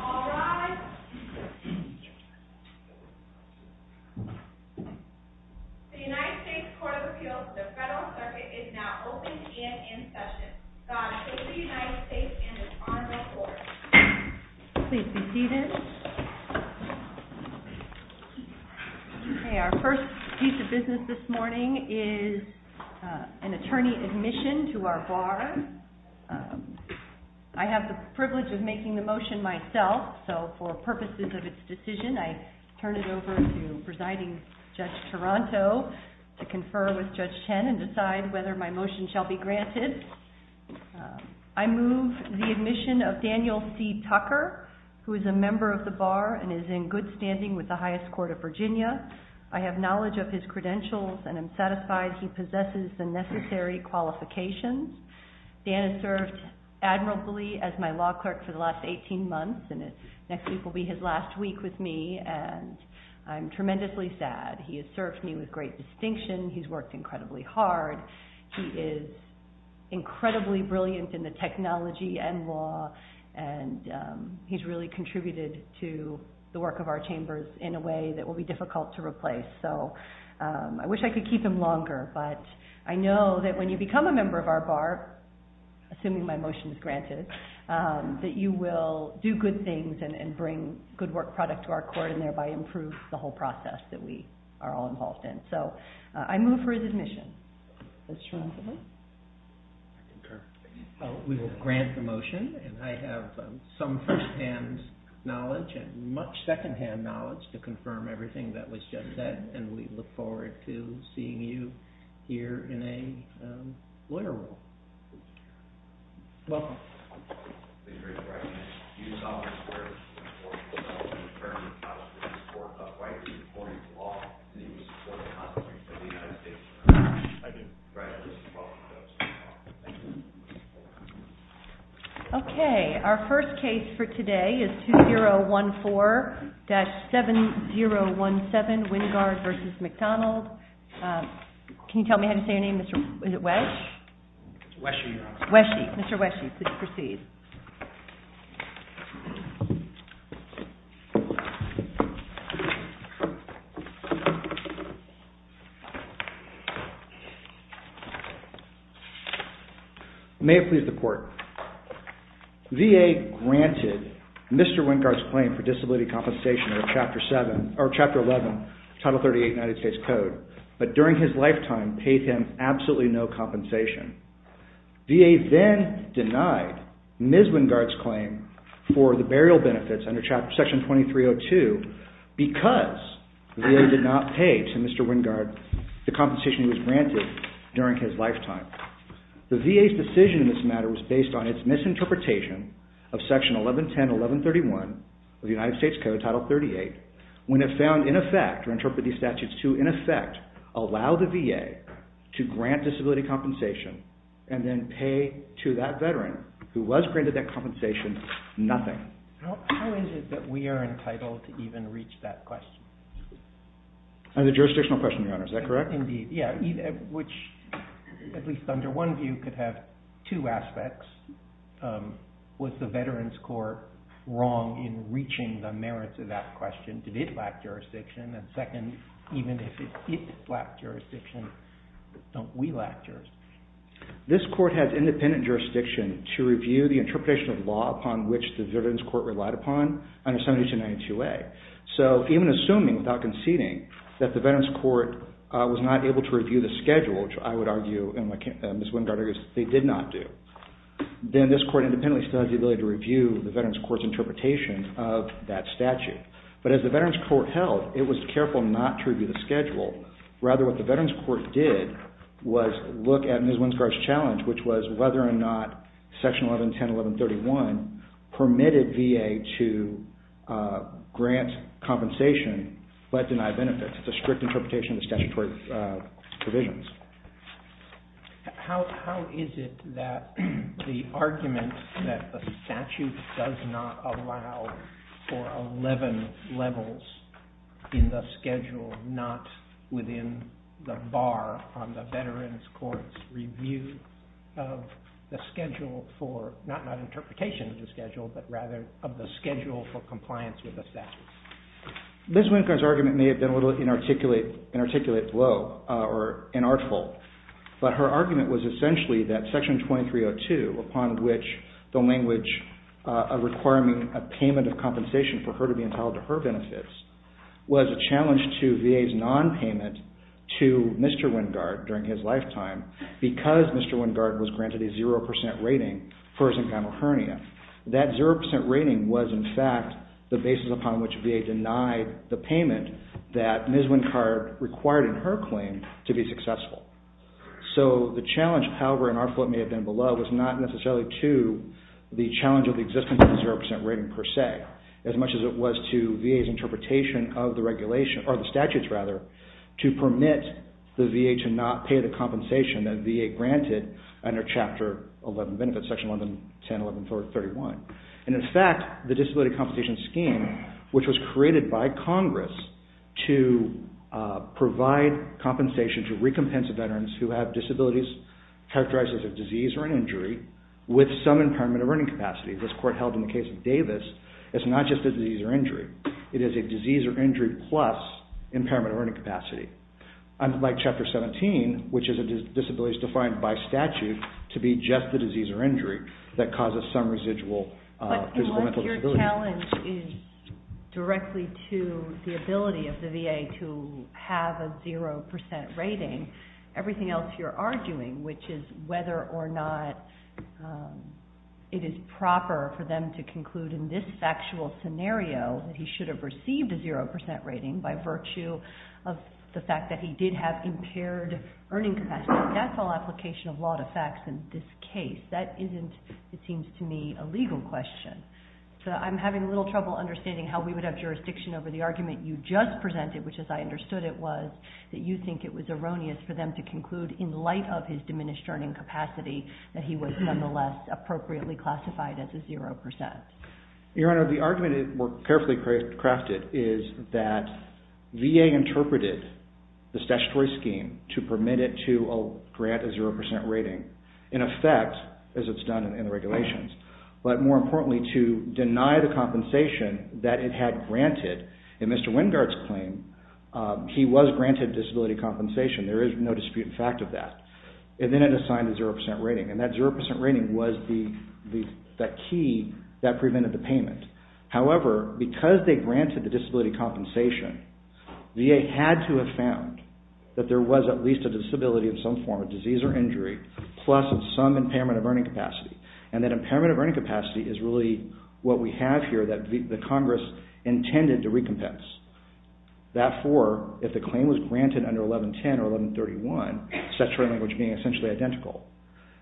All rise. The United States Court of Appeals to the Federal Circuit is now open and in session. God save the United States and His Honorable Court. Please be seated. Our first piece of business this morning is an attorney admission to our bar. I have the privilege of making the motion myself, so for purposes of its decision I turn it over to Presiding Judge Toronto to confer with Judge Chen and decide whether my motion shall be granted. I move the admission of Daniel C. Tucker, who is a member of the bar and is in good standing with the highest court of Virginia. I have knowledge of his credentials and am satisfied he possesses the necessary qualifications. Dan has served admirably as my law clerk for the last 18 months and next week will be his last week with me and I'm tremendously sad. He has served me with great distinction. He's worked incredibly hard. He is incredibly brilliant in the technology and law and he's really contributed to the work of our chambers in a way that will be difficult to replace. I wish I could keep him longer, but I know that when you become a member of our bar, assuming my motion is granted, that you will do good things and bring good work product to our court and thereby improve the whole process that we are all involved in. I move for his admission. We will grant the motion and I have some first-hand knowledge and much second-hand knowledge to confirm everything that was just said and we look forward to seeing you here in a lawyer role. Welcome. Okay, our first case for today is 2014-7017 Wingard v. McDonald. Can you tell me how to say your name? Is it Wes? Weshey, Your Honor. Mr. Weshey, please proceed. May it please the court. VA granted Mr. Wingard's claim for disability compensation in Chapter 11, Title 38, United States Code, but during his lifetime paid him absolutely no compensation. VA then denied Ms. Wingard's claim for the burial benefits under Section 2302 because VA did not pay to Mr. Wingard the compensation he was granted during his lifetime. The VA's decision in this matter was based on its misinterpretation of Section 1110-1131 of the United States Code, Title 38, when it found in effect or interpreted these statutes to, in effect, allow the VA to grant disability compensation and then pay to that veteran who was granted that compensation, nothing. How is it that we are entitled to even reach that question? Another jurisdictional question, Your Honor. Is that correct? Indeed, yeah. Which, at least under one view, could have two aspects. Was the Veterans Court wrong in reaching the merits of that question? Did it lack jurisdiction? And second, even if it lacked jurisdiction, don't we lack jurisdiction? This Court has independent jurisdiction to review the interpretation of law upon which the Veterans Court relied upon under 7292A. So even assuming, without conceding, that the Veterans Court was not able to review the schedule, which I would argue and Ms. Wingard argues they did not do, then this Court independently still has the ability to review the Veterans Court's interpretation of that statute. But as the Veterans Court held, it was careful not to review the schedule. Rather, what the Veterans Court did was look at Ms. Wingard's challenge, which was whether or not Section 1110-1131 permitted VA to grant compensation but deny benefits. It's a strict interpretation of the statutory provisions. How is it that the argument that the statute does not allow for 11 levels in the schedule, not within the bar on the Veterans Court's review of the schedule for, not interpretation of the schedule, but rather of the schedule for compliance with the statute? Ms. Wingard's argument may have been a little inarticulate blow or inartful, but her argument was essentially that Section 2302, upon which the language of requiring a payment of compensation for her to be entitled to her benefits, was a challenge to VA's non-payment to Mr. Wingard during his lifetime because Mr. Wingard was granted a 0% rating for his engineal hernia. That 0% rating was, in fact, the basis upon which VA denied the payment that Ms. Wingard required in her claim to be successful. The challenge, however, inarticulate may have been below was not necessarily to the challenge of the existence of the 0% rating per se, as much as it was to VA's interpretation of the regulation, or the statutes rather, to permit the VA to not pay the compensation that VA granted under Chapter 11 benefits, Section 1110-1131. In fact, the Disability Compensation Scheme, which was created by Congress to provide compensation to recompense veterans who have disabilities characterized as a disease or an injury with some impairment of earning capacity, as the court held in the case of Davis, is not just a disease or injury. It is a disease or injury plus impairment of earning capacity, unlike Chapter 17, which is a disability defined by statute to be just a disease or injury that causes some residual physical and mental disability. The challenge is directly to the ability of the VA to have a 0% rating. Everything else you're arguing, which is whether or not it is proper for them to conclude in this factual scenario that he should have received a 0% rating by virtue of the fact that he did have impaired earning capacity, that's all application of law to facts in this case. That isn't, it seems to me, a legal question. I'm having a little trouble understanding how we would have jurisdiction over the argument you just presented, which as I understood it was, that you think it was erroneous for them to conclude in light of his diminished earning capacity that he was nonetheless appropriately classified as a 0%. Your Honor, the argument we carefully crafted is that VA interpreted the statutory scheme to permit it to grant a 0% rating. In effect, as it's done in the regulations, but more importantly to deny the compensation that it had granted in Mr. Wingard's claim, he was granted disability compensation. There is no disputed fact of that. Then it assigned a 0% rating. That 0% rating was the key that prevented the payment. However, because they granted the disability compensation, VA had to have found that there was at least a disability of some form, a disease or injury, plus some impairment of earning capacity. That impairment of earning capacity is really what we have here that the Congress intended to recompense. Therefore, if the claim was granted under 1110 or 1131, statutory language being essentially identical,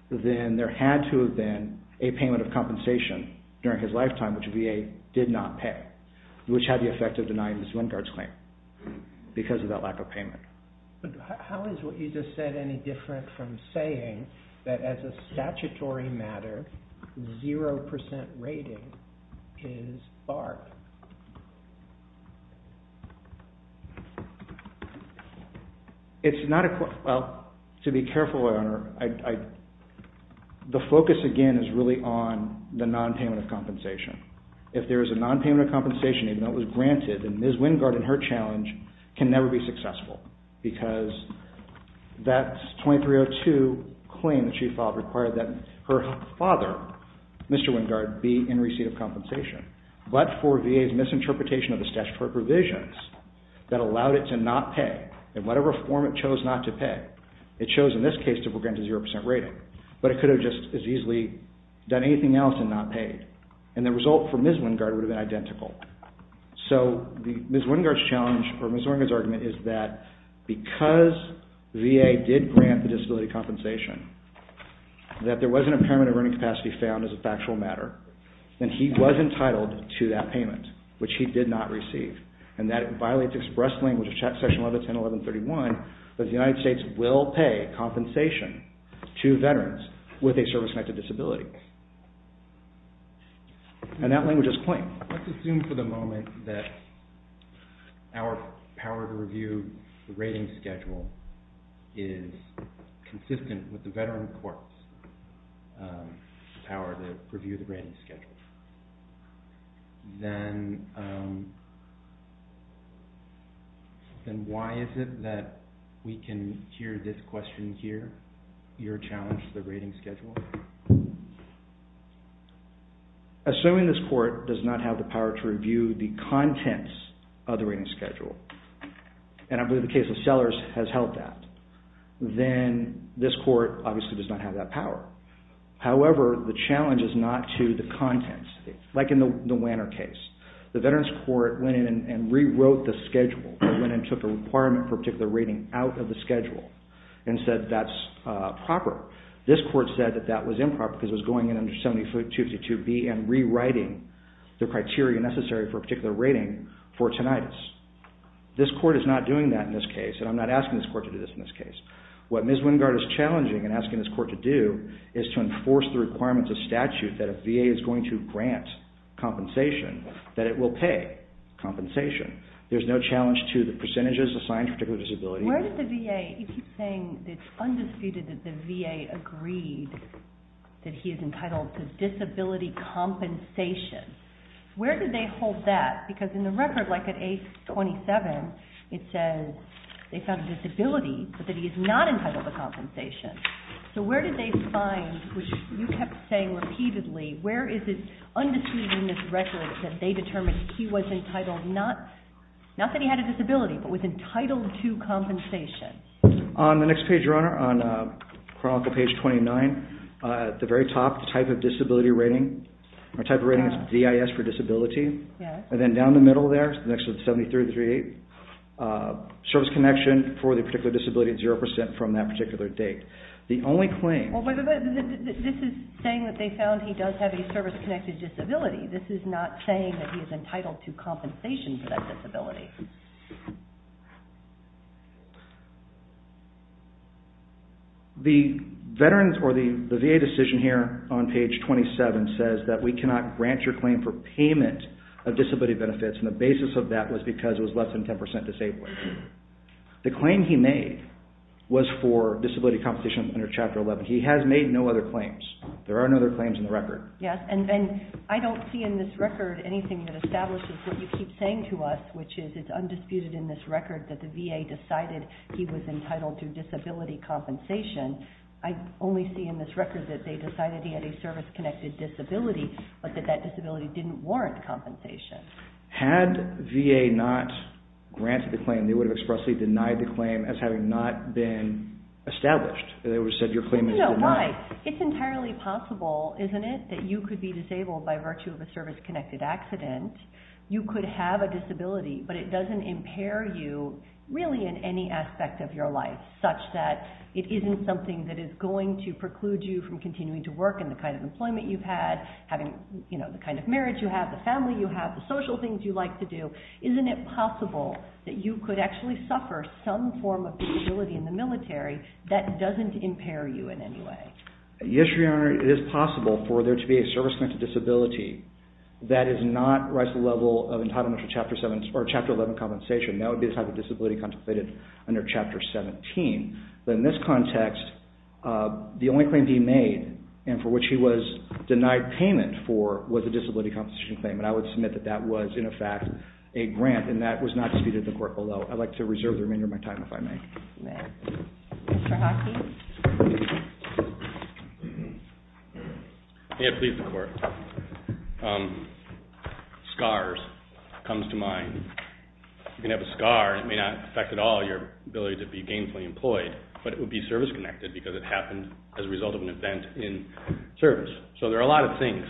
then there had to have been a payment of compensation during his lifetime, which VA did not pay, which had the effect of denying Mr. Wingard's claim because of that lack of payment. How is what you just said any different from saying that as a statutory matter, 0% rating is BART? It's not a – well, to be careful, Your Honor, the focus again is really on the nonpayment of compensation. If there is a nonpayment of compensation, even though it was granted, then Ms. Wingard and her challenge can never be successful because that 2302 claim that she filed required that her father, Mr. Wingard, be in receipt of compensation. But for VA's misinterpretation of the statutory provisions that allowed it to not pay, in whatever form it chose not to pay, it chose in this case to grant a 0% rating, but it could have just as easily done anything else and not paid. And the result for Ms. Wingard would have been identical. So Ms. Wingard's challenge or Ms. Wingard's argument is that because VA did grant the disability compensation, that there was an impairment of earning capacity found as a factual matter, then he was entitled to that payment, which he did not receive. And that violates express language of Section 1110, 1131 that the United States will pay compensation to veterans with a service-connected disability. And that language is plain. Let's assume for the moment that our power to review the rating schedule is consistent with the veteran court's power to review the rating schedule. Then why is it that we can hear this question here, your challenge to the rating schedule? Assuming this court does not have the power to review the contents of the rating schedule, and I believe the case of Sellers has held that, then this court obviously does not have that power. However, the challenge is not to the contents, like in the Wanner case. The veterans court went in and rewrote the schedule. They went in and took a requirement for a particular rating out of the schedule and said that's proper. This court said that that was improper because it was going in under 70 foot 252B and rewriting the criteria necessary for a particular rating for tinnitus. This court is not doing that in this case, and I'm not asking this court to do this in this case. What Ms. Wingard is challenging and asking this court to do is to enforce the requirements of statute that if VA is going to grant compensation, that it will pay compensation. There's no challenge to the percentages assigned to a particular disability. Where did the VA, you keep saying it's undisputed that the VA agreed that he is entitled to disability compensation. Where did they hold that? Because in the record, like at 827, it says they found a disability, but that he is not entitled to compensation. So where did they find, which you kept saying repeatedly, where is it undisputed in this record that they determined he was entitled, not that he had a disability, but was entitled to compensation? On the next page, Your Honor, on chronicle page 29, at the very top, the type of disability rating. Our type of rating is DIS for disability. And then down the middle there, next to the 7338, service connection for the particular disability, 0% from that particular date. The only claim... This is saying that they found he does have a service-connected disability. This is not saying that he is entitled to compensation for that disability. The VA decision here on page 27 says that we cannot grant your claim for payment of disability benefits. And the basis of that was because it was less than 10% disabled. The claim he made was for disability compensation under chapter 11. He has made no other claims. There are no other claims in the record. Yes, and I don't see in this record anything that establishes what you keep saying to us, which is it's undisputed in this record that the VA decided he was entitled to disability compensation. I only see in this record that they decided he had a service-connected disability, but that that disability didn't warrant compensation. Had VA not granted the claim, they would have expressly denied the claim as having not been established. They would have said your claim is denied. It's entirely possible, isn't it, that you could be disabled by virtue of a service-connected accident. You could have a disability, but it doesn't impair you really in any aspect of your life such that it isn't something that is going to preclude you from continuing to work in the kind of employment you've had, having the kind of marriage you have, the family you have, the social things you like to do. Isn't it possible that you could actually suffer some form of disability in the military that doesn't impair you in any way? Yes, Your Honor, it is possible for there to be a service-connected disability that does not rise to the level of entitlement for Chapter 11 compensation. That would be the type of disability contemplated under Chapter 17. But in this context, the only claim being made, and for which he was denied payment for, was a disability compensation claim. And I would submit that that was, in effect, a grant, and that was not disputed in the court below. I'd like to reserve the remainder of my time, if I may. Thank you. Mr. Hockey? May it please the Court. Scars comes to mind. You can have a scar, and it may not affect at all your ability to be gainfully employed, but it would be service-connected because it happened as a result of an event in service. So there are a lot of things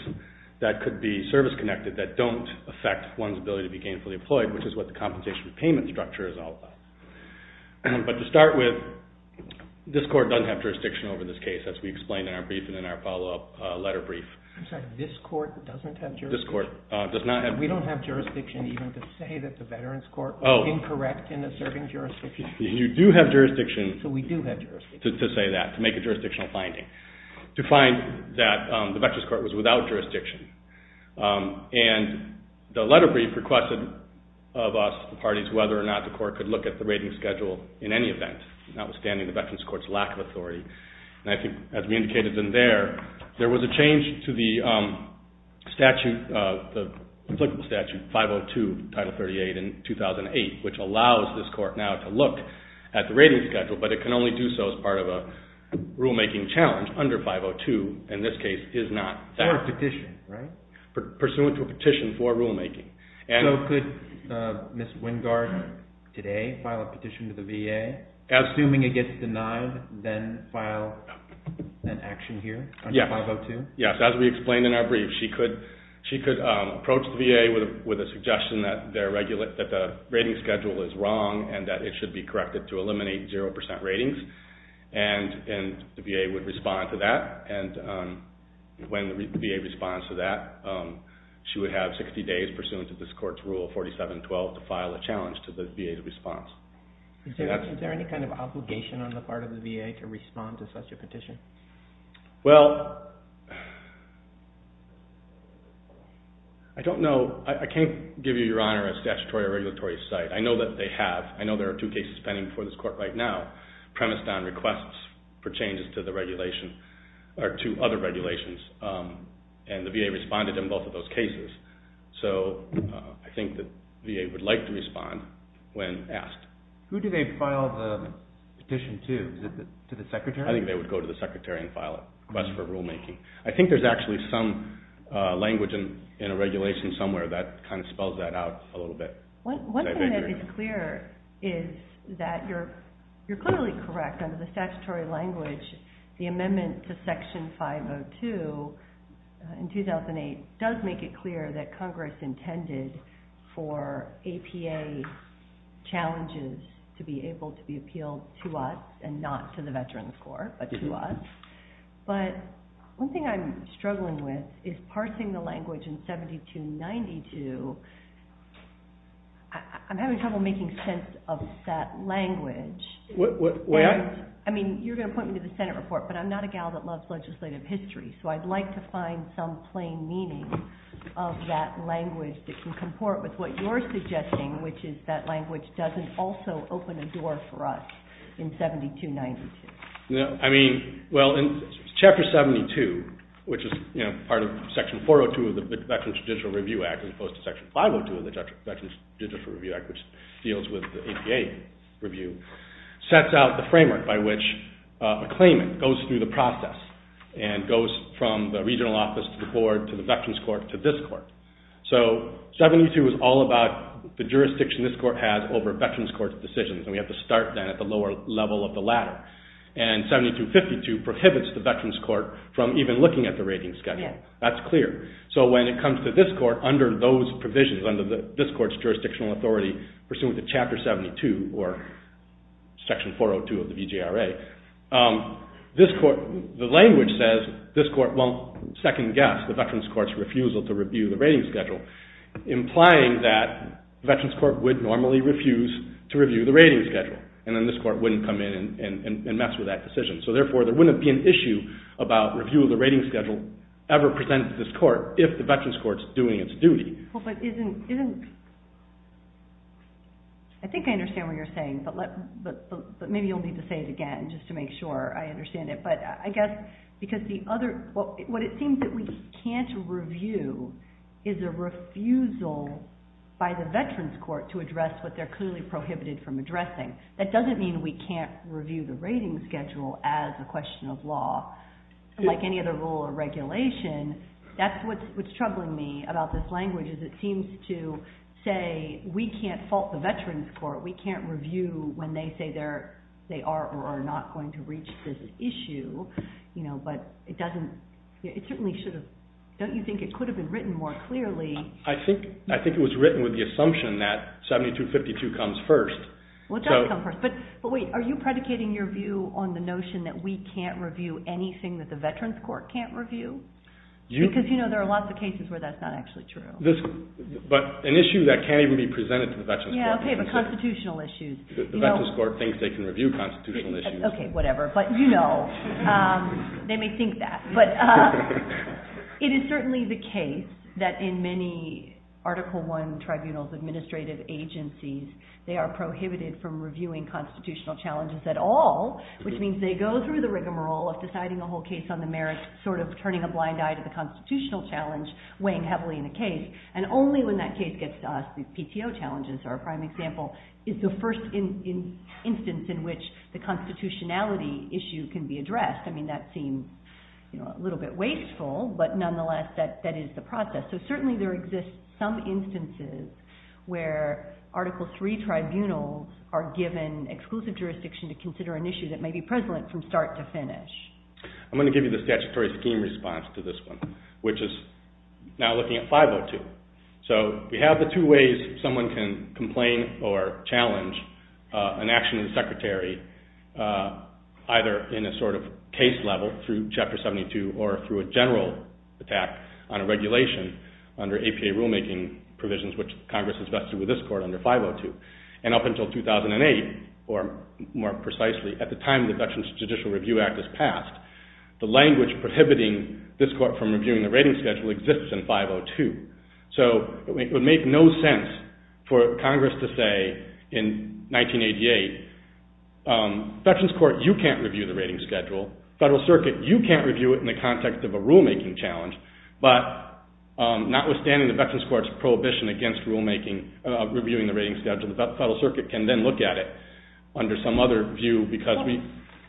that could be service-connected that don't affect one's ability to be gainfully employed, which is what the compensation repayment structure is all about. But to start with, this Court doesn't have jurisdiction over this case, as we explained in our brief and in our follow-up letter brief. I'm sorry, this Court doesn't have jurisdiction? This Court does not have jurisdiction. We don't have jurisdiction even to say that the Veterans Court was incorrect in asserting jurisdiction? You do have jurisdiction to say that, to make a jurisdictional finding, to find that the Veterans Court was without jurisdiction. And the letter brief requested of us, the parties, whether or not the Court could look at the rating schedule in any event, notwithstanding the Veterans Court's lack of authority. And I think, as we indicated in there, there was a change to the statute, the applicable statute, 502, Title 38, in 2008, which allows this Court now to look at the rating schedule, but it can only do so as part of a rulemaking challenge under 502, and this case is not that. Pursuant to a petition, right? Pursuant to a petition for rulemaking. So could Ms. Wingard today file a petition to the VA, assuming it gets denied, then file an action here under 502? Yes, as we explained in our brief, she could approach the VA with a suggestion that the rating schedule is wrong and that it should be corrected to eliminate 0% ratings, and the VA would respond to that. And when the VA responds to that, she would have 60 days pursuant to this Court's Rule 4712 to file a challenge to the VA's response. Is there any kind of obligation on the part of the VA to respond to such a petition? Well, I don't know. I can't give you, Your Honor, a statutory or regulatory site. I know that they have. I know there are two cases pending before this Court right now premised on requests for changes to the regulation or to other regulations, and the VA responded in both of those cases. So I think the VA would like to respond when asked. Who do they file the petition to? Is it to the Secretary? I think they would go to the Secretary and file a request for rulemaking. I think there's actually some language in a regulation somewhere that kind of spells that out a little bit. One thing that is clear is that you're clearly correct under the statutory language. The amendment to Section 502 in 2008 does make it clear that Congress intended for APA challenges to be able to be appealed to us and not to the Veterans Corps, but to us. But one thing I'm struggling with is parsing the language in 7292. I'm having trouble making sense of that language. I mean, you're going to point me to the Senate report, but I'm not a gal that loves legislative history, so I'd like to find some plain meaning of that language that can comport with what you're suggesting, which is that language doesn't also open a door for us in 7292. Well, Chapter 72, which is part of Section 402 of the Veterans Digital Review Act, as opposed to Section 502 of the Veterans Digital Review Act, which deals with the APA review, sets out the framework by which a claimant goes through the process and goes from the regional office to the board, to the Veterans Corps, to this court. So 72 is all about the jurisdiction this court has over Veterans Corps decisions, and we have to start then at the lower level of the ladder. And 7252 prohibits the Veterans Court from even looking at the rating schedule. That's clear. So when it comes to this court, under those provisions, under this court's jurisdictional authority, pursuant to Chapter 72 or Section 402 of the VGRA, the language says this court won't second-guess the Veterans Court's refusal to review the rating schedule, implying that Veterans Court would normally refuse to review the rating schedule, and then this court wouldn't come in and mess with that decision. So therefore, there wouldn't be an issue about review of the rating schedule ever presented to this court if the Veterans Court's doing its duty. Well, but isn't... I think I understand what you're saying, but maybe you'll need to say it again just to make sure I understand it. But I guess because the other... What it seems that we can't review is a refusal by the Veterans Court to address what they're clearly prohibited from addressing. That doesn't mean we can't review the rating schedule as a question of law. Like any other rule or regulation, that's what's troubling me about this language, is it seems to say we can't fault the Veterans Court, we can't review when they say they are or are not going to reach this issue, but it doesn't... It certainly should have... Don't you think it could have been written more clearly? I think it was written with the assumption that 7252 comes first. Well, it does come first, but wait, are you predicating your view on the notion that we can't review anything that the Veterans Court can't review? Because you know there are lots of cases where that's not actually true. But an issue that can't even be presented to the Veterans Court. Yeah, okay, but constitutional issues. The Veterans Court thinks they can review constitutional issues. Okay, whatever, but you know, they may think that. But it is certainly the case that in many Article I tribunals, administrative agencies, they are prohibited from reviewing constitutional challenges at all, which means they go through the rigmarole of deciding the whole case on the merits, sort of turning a blind eye to the constitutional challenge weighing heavily in the case, and only when that case gets to us, the PTO challenges are a prime example, is the first instance in which the constitutionality issue can be addressed. I mean that seems a little bit wasteful, but nonetheless that is the process. So certainly there exist some instances where Article III tribunals are given exclusive jurisdiction to consider an issue that may be prevalent from start to finish. I'm going to give you the statutory scheme response to this one, which is now looking at 502. So we have the two ways someone can complain or challenge an action of the secretary, either in a sort of case level through Chapter 72 or through a general attack on a regulation under APA rulemaking provisions, which Congress has vested with this court under 502. And up until 2008, or more precisely at the time the Dutch Judicial Review Act is passed, the language prohibiting this court from reviewing the rating schedule exists in 502. So it would make no sense for Congress to say in 1988, Veterans Court, you can't review the rating schedule. Federal Circuit, you can't review it in the context of a rulemaking challenge. But notwithstanding the Veterans Court's prohibition against rulemaking, reviewing the rating schedule, the Federal Circuit can then look at it under some other view.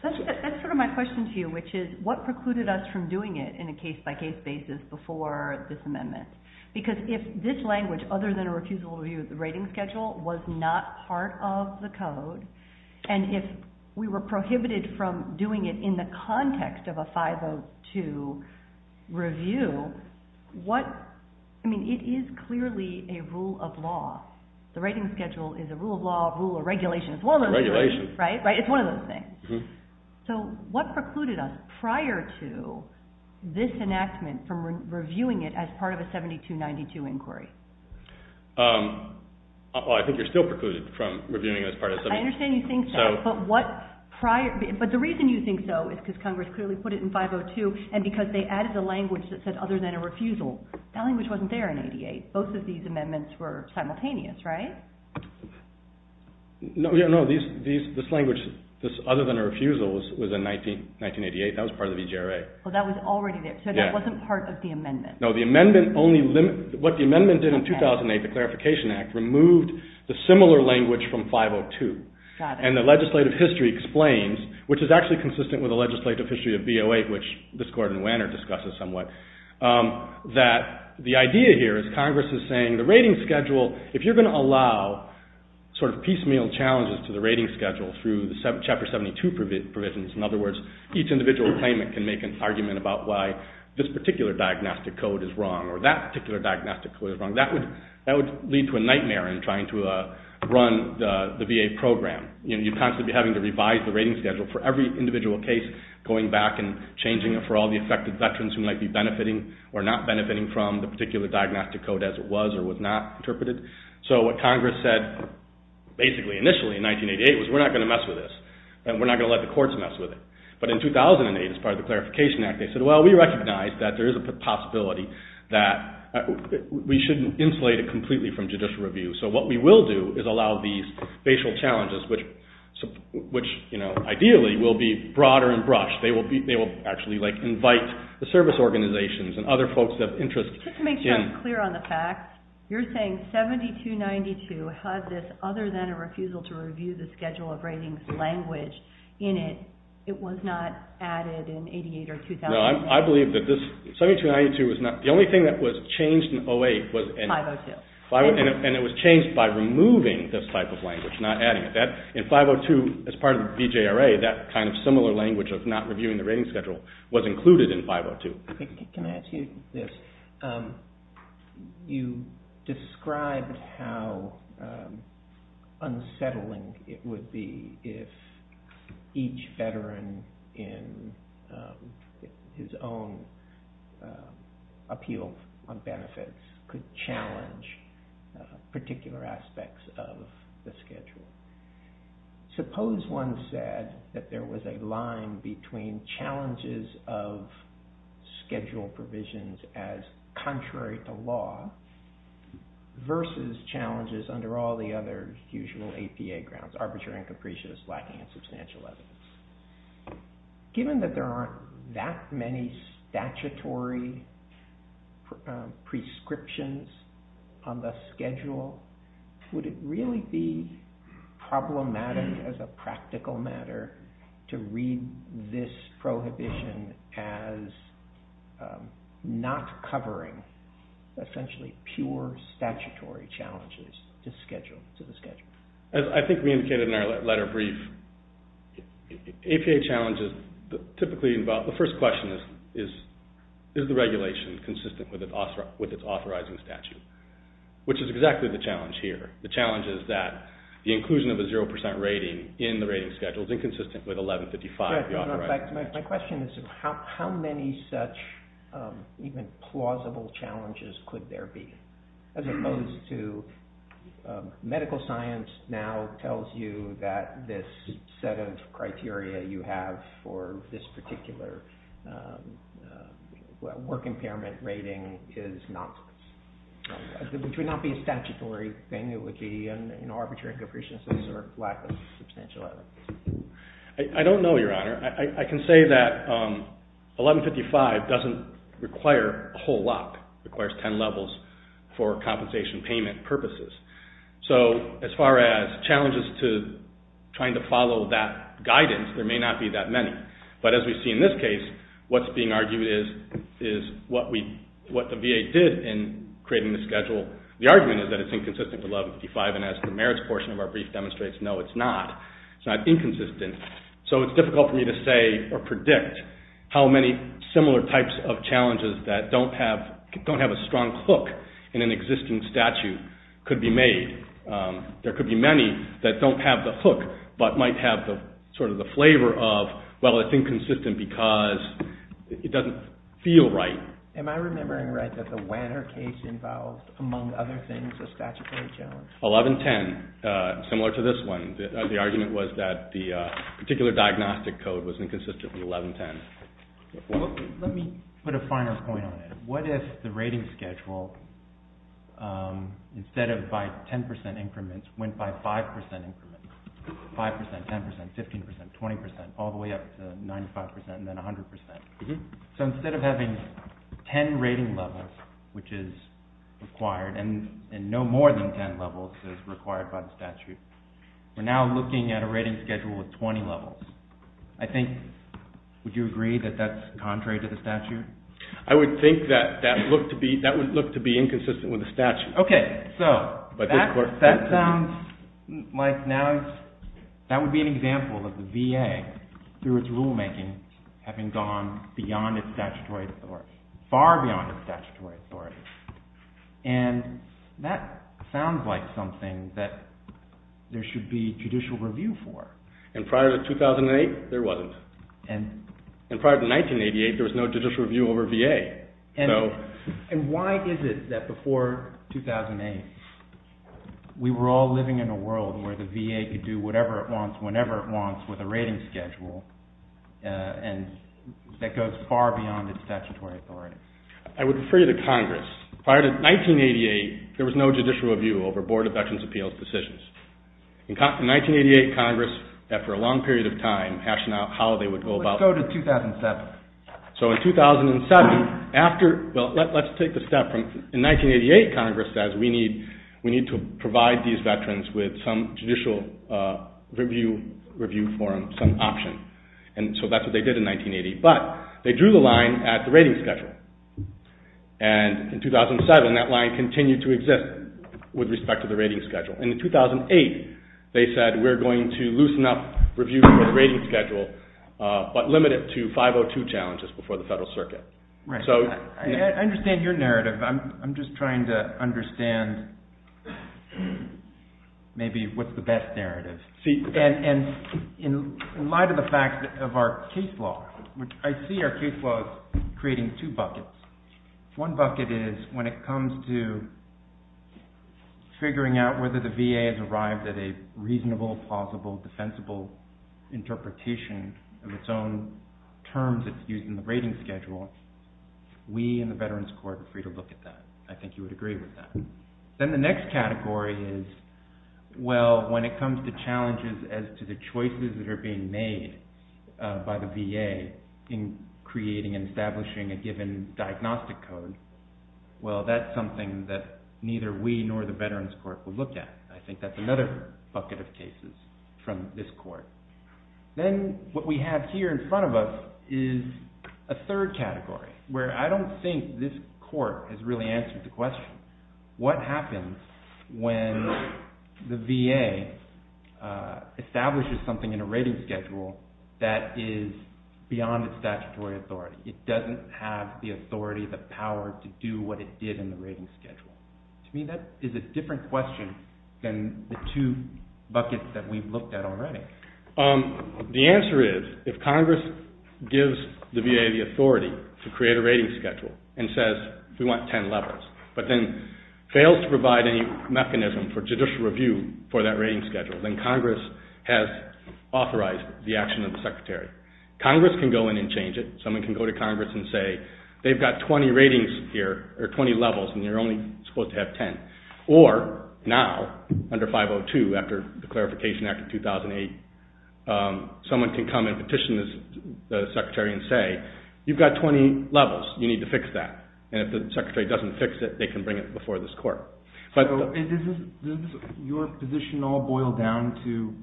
That's sort of my question to you, which is, what precluded us from doing it in a case-by-case basis before this amendment? Because if this language, other than a refusal to review the rating schedule, was not part of the code, and if we were prohibited from doing it in the context of a 502 review, it is clearly a rule of law. The rating schedule is a rule of law, a rule of regulation. It's one of those things. So what precluded us prior to this enactment from reviewing it as part of a 7292 inquiry? I think you're still precluded from reviewing it as part of a 7292 inquiry. I understand you think so. But the reason you think so is because Congress clearly put it in 502, and because they added a language that said other than a refusal. That language wasn't there in 88. Both of these amendments were simultaneous, right? No. This language, other than a refusal, was in 1988. That was part of the VGRA. That was already there. So that wasn't part of the amendment. No. What the amendment did in 2008, the Clarification Act, removed the similar language from 502. Got it. And the legislative history explains, which is actually consistent with the legislative history of B08, which this Court in Wanner discusses somewhat, that the idea here is Congress is saying the rating schedule, if you're going to allow sort of piecemeal challenges to the rating schedule through the Chapter 72 provisions, in other words, each individual claimant can make an argument about why this particular diagnostic code is wrong or that particular diagnostic code is wrong. That would lead to a nightmare in trying to run the VA program. You'd constantly be having to revise the rating schedule for every individual case, going back and changing it for all the affected veterans who might be benefiting or not benefiting from the particular diagnostic code as it was or was not interpreted. So what Congress said, basically initially in 1988, was we're not going to mess with this and we're not going to let the courts mess with it. But in 2008, as part of the Clarification Act, they said, well, we recognize that there is a possibility that we shouldn't insulate it completely from judicial review. So what we will do is allow these facial challenges, which ideally will be broader and brushed. They will actually invite the service organizations and other folks of interest. Just to make sure I'm clear on the facts, you're saying 7292 has this other than a refusal to review the schedule of ratings language in it. It was not added in 1988 or 2008. No, I believe that this 7292 is not... The only thing that was changed in 2008 was... 502. And it was changed by removing this type of language, not adding it. In 502, as part of the VJRA, that kind of similar language of not reviewing the rating schedule was included in 502. Can I ask you this? You described how unsettling it would be if each veteran in his own appeal on benefits could challenge particular aspects of the schedule. Suppose one said that there was a line between challenges of schedule provisions as contrary to law versus challenges under all the other usual APA grounds, arbitrary and capricious, lacking in substantial evidence. Given that there aren't that many statutory prescriptions on the schedule, would it really be problematic as a practical matter to read this prohibition as not covering essentially pure statutory challenges to the schedule? As I think we indicated in our letter brief, APA challenges typically involve... The first question is, is the regulation consistent with its authorizing statute? Which is exactly the challenge here. The challenge is that the inclusion of a 0% rating in the rating schedule is inconsistent with 1155. My question is, how many such even plausible challenges could there be? As opposed to medical science now tells you that this set of criteria you have for this particular work impairment rating would not be a statutory thing. It would be an arbitrary capriciousness or lack of substantial evidence. I don't know, Your Honor. I can say that 1155 doesn't require a whole lot. It requires 10 levels for compensation payment purposes. So as far as challenges to trying to follow that guidance, there may not be that many. But as we see in this case, what's being argued is what the VA did in creating the schedule. The argument is that it's inconsistent with 1155, and as the merits portion of our brief demonstrates, no, it's not. It's not inconsistent. So it's difficult for me to say or predict how many similar types of challenges that don't have a strong hook in an existing statute could be made. There could be many that don't have the hook but might have sort of the flavor of, well, it's inconsistent because it doesn't feel right. Am I remembering right that the Wanner case involved, among other things, a statutory challenge? 1110, similar to this one. The argument was that the particular diagnostic code was inconsistent with 1110. Let me put a final point on it. What if the rating schedule, instead of by 10% increments, went by 5% increments? 5%, 10%, 15%, 20%, all the way up to 95% and then 100%. So instead of having 10 rating levels, which is required, and no more than 10 levels is required by the statute, we're now looking at a rating schedule with 20 levels. I think, would you agree that that's contrary to the statute? I would think that would look to be inconsistent with the statute. Okay, so that sounds like now... that would be an example of the VA, through its rulemaking, having gone beyond its statutory authority, far beyond its statutory authority. And that sounds like something that there should be judicial review for. And prior to 2008, there wasn't. And prior to 1988, there was no judicial review over VA. And why is it that before 2008, we were all living in a world where the VA could do whatever it wants, whenever it wants, with a rating schedule, and that goes far beyond its statutory authority? I would refer you to Congress. Prior to 1988, there was no judicial review over Board of Veterans' Appeals decisions. In 1988, Congress, after a long period of time, hashed out how they would go about... Let's go to 2007. So in 2007, after... Well, let's take the step from... In 1988, Congress says, we need to provide these veterans with some judicial review for them, some option. And so that's what they did in 1980. But they drew the line at the rating schedule. And in 2007, that line continued to exist with respect to the rating schedule. In 2008, they said, we're going to loosen up review for the rating schedule, but limit it to 502 challenges before the Federal Circuit. I understand your narrative. I'm just trying to understand maybe what's the best narrative. And in light of the fact of our case law, which I see our case law is creating two buckets. One bucket is when it comes to figuring out whether the VA has arrived at a reasonable, plausible, defensible interpretation of its own terms that's used in the rating schedule. We in the Veterans Court are free to look at that. I think you would agree with that. Then the next category is, well, when it comes to challenges as to the choices that are being made by the VA in creating and establishing a given diagnostic code, well, that's something that neither we nor the Veterans Court will look at. I think that's another bucket of cases from this Court. Then what we have here in front of us is a third category where I don't think this Court has really answered the question. What happens when the VA establishes something in a rating schedule that is beyond its statutory authority? It doesn't have the authority, the power, to do what it did in the rating schedule. To me, that is a different question than the two buckets that we've looked at already. The answer is, if Congress gives the VA the authority to create a rating schedule and says, we want 10 levels, but then fails to provide any mechanism for judicial review for that rating schedule, then Congress has authorized the action of the Secretary. Congress can go in and change it. Someone can go to Congress and say, they've got 20 ratings here, or 20 levels, and they're only supposed to have 10. Or, now, under 502, after the Clarification Act of 2008, someone can come and petition the Secretary and say, you've got 20 levels, you need to fix that. And if the Secretary doesn't fix it, they can bring it before this Court. Does your position all boil down to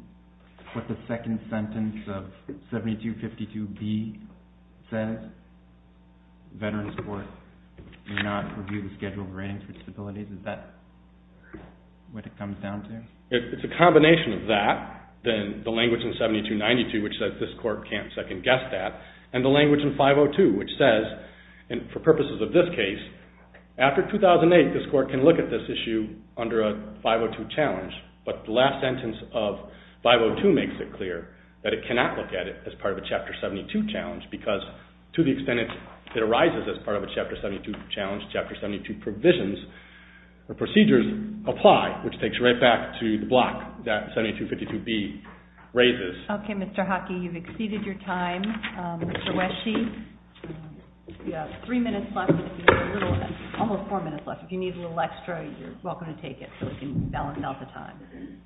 what the second sentence of 7252B says? Veterans Court may not review the schedule of ratings for disabilities. Is that what it comes down to? It's a combination of that, then the language in 7292, which says this Court can't second-guess that, and the language in 502, which says, and for purposes of this case, after 2008, this Court can look at this issue under a 502 challenge, but the last sentence of 502 makes it clear that it cannot look at it as part of a Chapter 72 challenge because, to the extent it arises as part of a Chapter 72 challenge, Chapter 72 provisions or procedures apply, which takes you right back to the block that 7252B raises. Okay, Mr. Hockey, you've exceeded your time. Mr. Wesche, you have three minutes left, almost four minutes left. If you need a little extra, you're welcome to take it so we can balance out the time.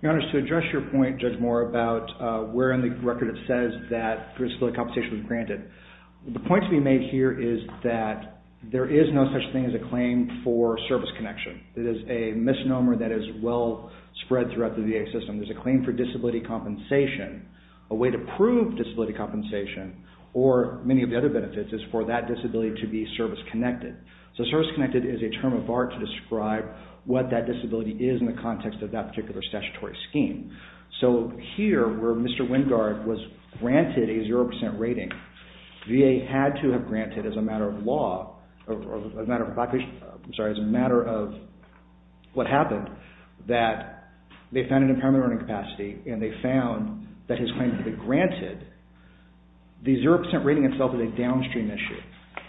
Your Honor, to address your point, Judge Moore, about where in the record it says that disability compensation was granted, the point to be made here is that there is no such thing as a claim for service connection. It is a misnomer that is well spread throughout the VA system. There's a claim for disability compensation. A way to prove disability compensation, or many of the other benefits, is for that disability to be service-connected. So service-connected is a term of art to describe what that disability is in the context of that particular statutory scheme. So here, where Mr. Wingard was granted a 0% rating, VA had to have granted as a matter of law, as a matter of what happened, that they found an impairment of learning capacity and they found that his claim could be granted. The 0% rating itself is a downstream issue.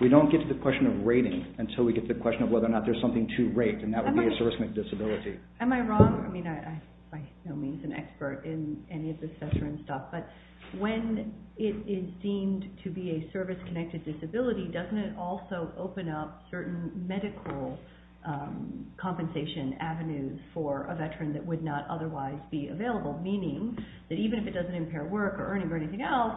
We don't get to the question of rating until we get to the question of whether or not there's something to rate, and that would be a service-connected disability. Am I wrong? I mean, I'm by no means an expert in any of this veteran stuff, but when it is deemed to be a service-connected disability, doesn't it also open up certain medical compensation avenues for a veteran that would not otherwise be available? Meaning that even if it doesn't impair work or earning or anything else,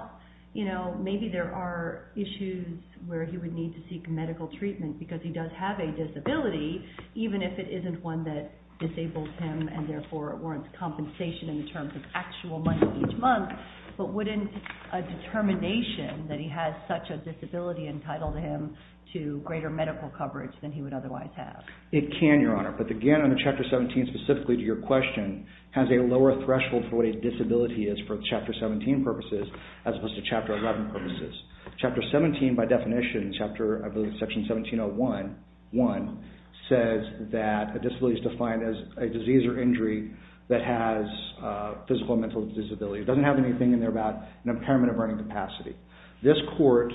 maybe there are issues where he would need to seek medical treatment because he does have a disability, even if it isn't one that disables him and therefore warrants compensation in terms of actual money each month, but wouldn't a determination that he has such a disability entitle him to greater medical coverage than he would otherwise have? It can, Your Honor, but the Gannon under Chapter 17, specifically to your question, has a lower threshold for what a disability is for Chapter 17 purposes as opposed to Chapter 11 purposes. Chapter 17 by definition, I believe it's Section 1701, says that a disability is defined as a disease or injury that has a physical or mental disability. It doesn't have anything in there about an impairment of earning capacity. This Court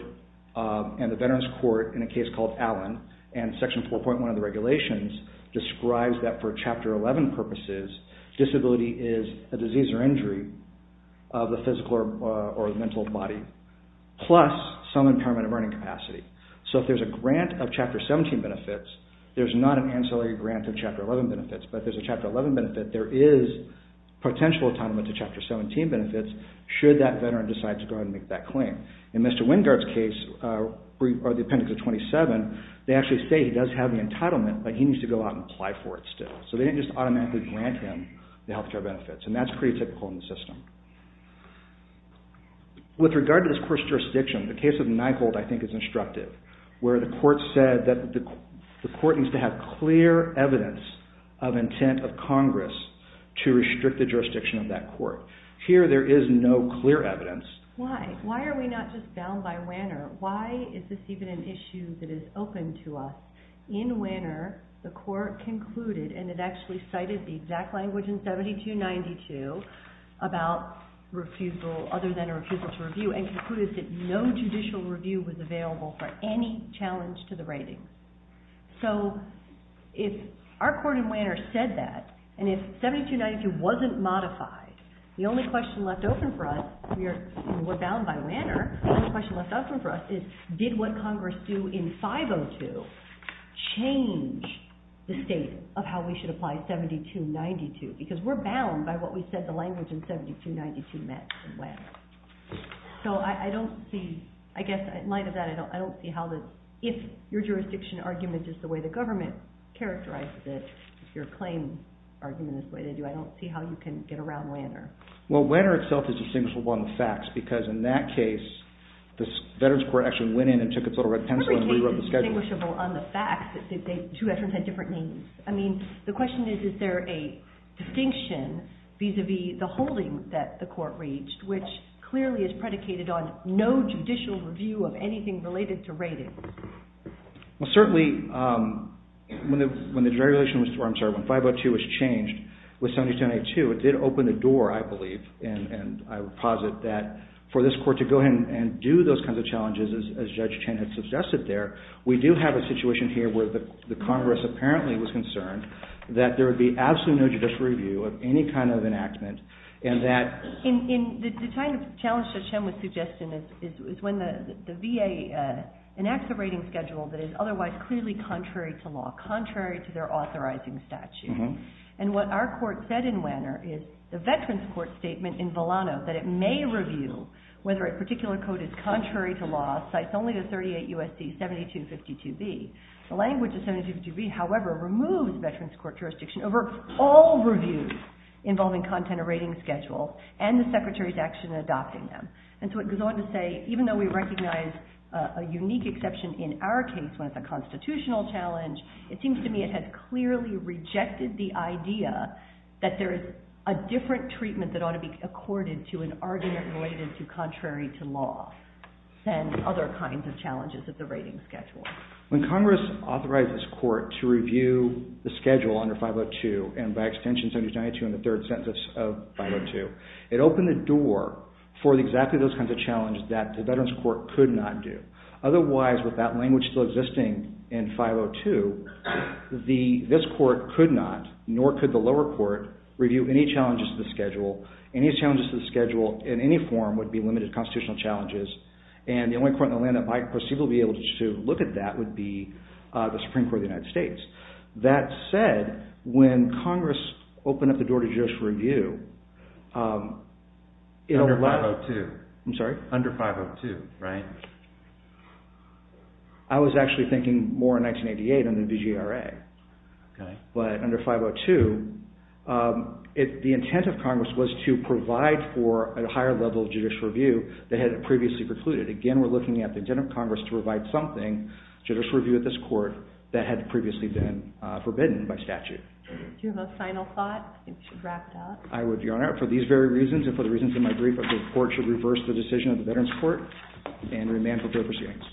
and the Veterans Court in a case called Allen and Section 4.1 of the regulations describes that for Chapter 11 purposes, disability is a disease or injury of the physical or mental body, plus some impairment of earning capacity. So if there's a grant of Chapter 17 benefits, there's not an ancillary grant of Chapter 11 benefits, but if there's a Chapter 11 benefit, there is potential entitlement to Chapter 17 benefits should that veteran decide to go ahead and make that claim. In Mr. Wingard's case, or the appendix of 27, they actually say he does have the entitlement, but he needs to go out and apply for it still. So they didn't just automatically grant him the health care benefits, and that's pretty typical in the system. With regard to this Court's jurisdiction, the case of Nygold I think is instructive, where the Court said that the Court needs to have clear evidence of intent of Congress to restrict the jurisdiction of that Court. Here there is no clear evidence. Why? Why are we not just bound by Wanner? Why is this even an issue that is open to us? In Wanner, the Court concluded, and it actually cited the exact language in 7292, about refusal, other than a refusal to review, and concluded that no judicial review was available for any challenge to the rating. So if our Court in Wanner said that, and if 7292 wasn't modified, the only question left open for us, we're bound by Wanner, the only question left open for us is, did what Congress do in 502 change the state of how we should apply 7292? Because we're bound by what we said the language in 7292 meant in Wanner. So I don't see, I guess in light of that, I don't see how this, if your jurisdiction argument is the way the government characterized it, if your claim argument is the way they do, I don't see how you can get around Wanner. Well, Wanner itself is distinguishable on the facts, because in that case, the Veterans Court actually went in and took its little red pencil and rewrote the schedule. I don't think it's distinguishable on the facts that two veterans had different names. I mean, the question is, is there a distinction vis-à-vis the holding that the court reached, which clearly is predicated on no judicial review of anything related to ratings? Well, certainly, when the regulation was, I'm sorry, when 502 was changed with 7292, it did open the door, I believe, and I would posit that for this court to go ahead and do those kinds of challenges, as Judge Chen had suggested there, we do have a situation here where the Congress apparently was concerned that there would be absolutely no judicial review of any kind of enactment, and that... The kind of challenge Judge Chen was suggesting is when the VA enacts a rating schedule that is otherwise clearly contrary to law, contrary to their authorizing statute. And what our court said in Wanner is the Veterans Court statement in Volano that it may review whether a particular code is contrary to law, Cites only the 38 U.S.C. 7252b. The language of 7252b, however, removes Veterans Court jurisdiction over all reviews involving content of rating schedules and the Secretary's action in adopting them. And so it goes on to say, even though we recognize a unique exception in our case when it's a constitutional challenge, it seems to me it has clearly rejected the idea that there is a different treatment that ought to be accorded to an argument related to contrary to law than other kinds of challenges of the rating schedule. When Congress authorized this court to review the schedule under 502, and by extension 7292 in the third sentence of 502, it opened the door for exactly those kinds of challenges that the Veterans Court could not do. Otherwise, with that language still existing in 502, this court could not, nor could the lower court, review any challenges to the schedule. Any challenges to the schedule in any form would be limited constitutional challenges, and the only court in the land that I perceive will be able to look at that would be the Supreme Court of the United States. That said, when Congress opened up the door to judicial review... Under 502. I'm sorry? Under 502, right? I was actually thinking more in 1988 under the VGRA. Okay. But under 502, the intent of Congress was to provide for a higher level of judicial review that had previously precluded. Again, we're looking at the intent of Congress to provide something, judicial review at this court, that had previously been forbidden by statute. Do you have a final thought? I think we should wrap it up. I would be honored. For these very reasons, and for the reasons in my brief, I think the court should reverse the decision of the Veterans Court and remand for fair proceedings.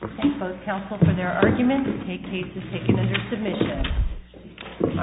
Thank both counsel for their arguments. The case is taken under submission.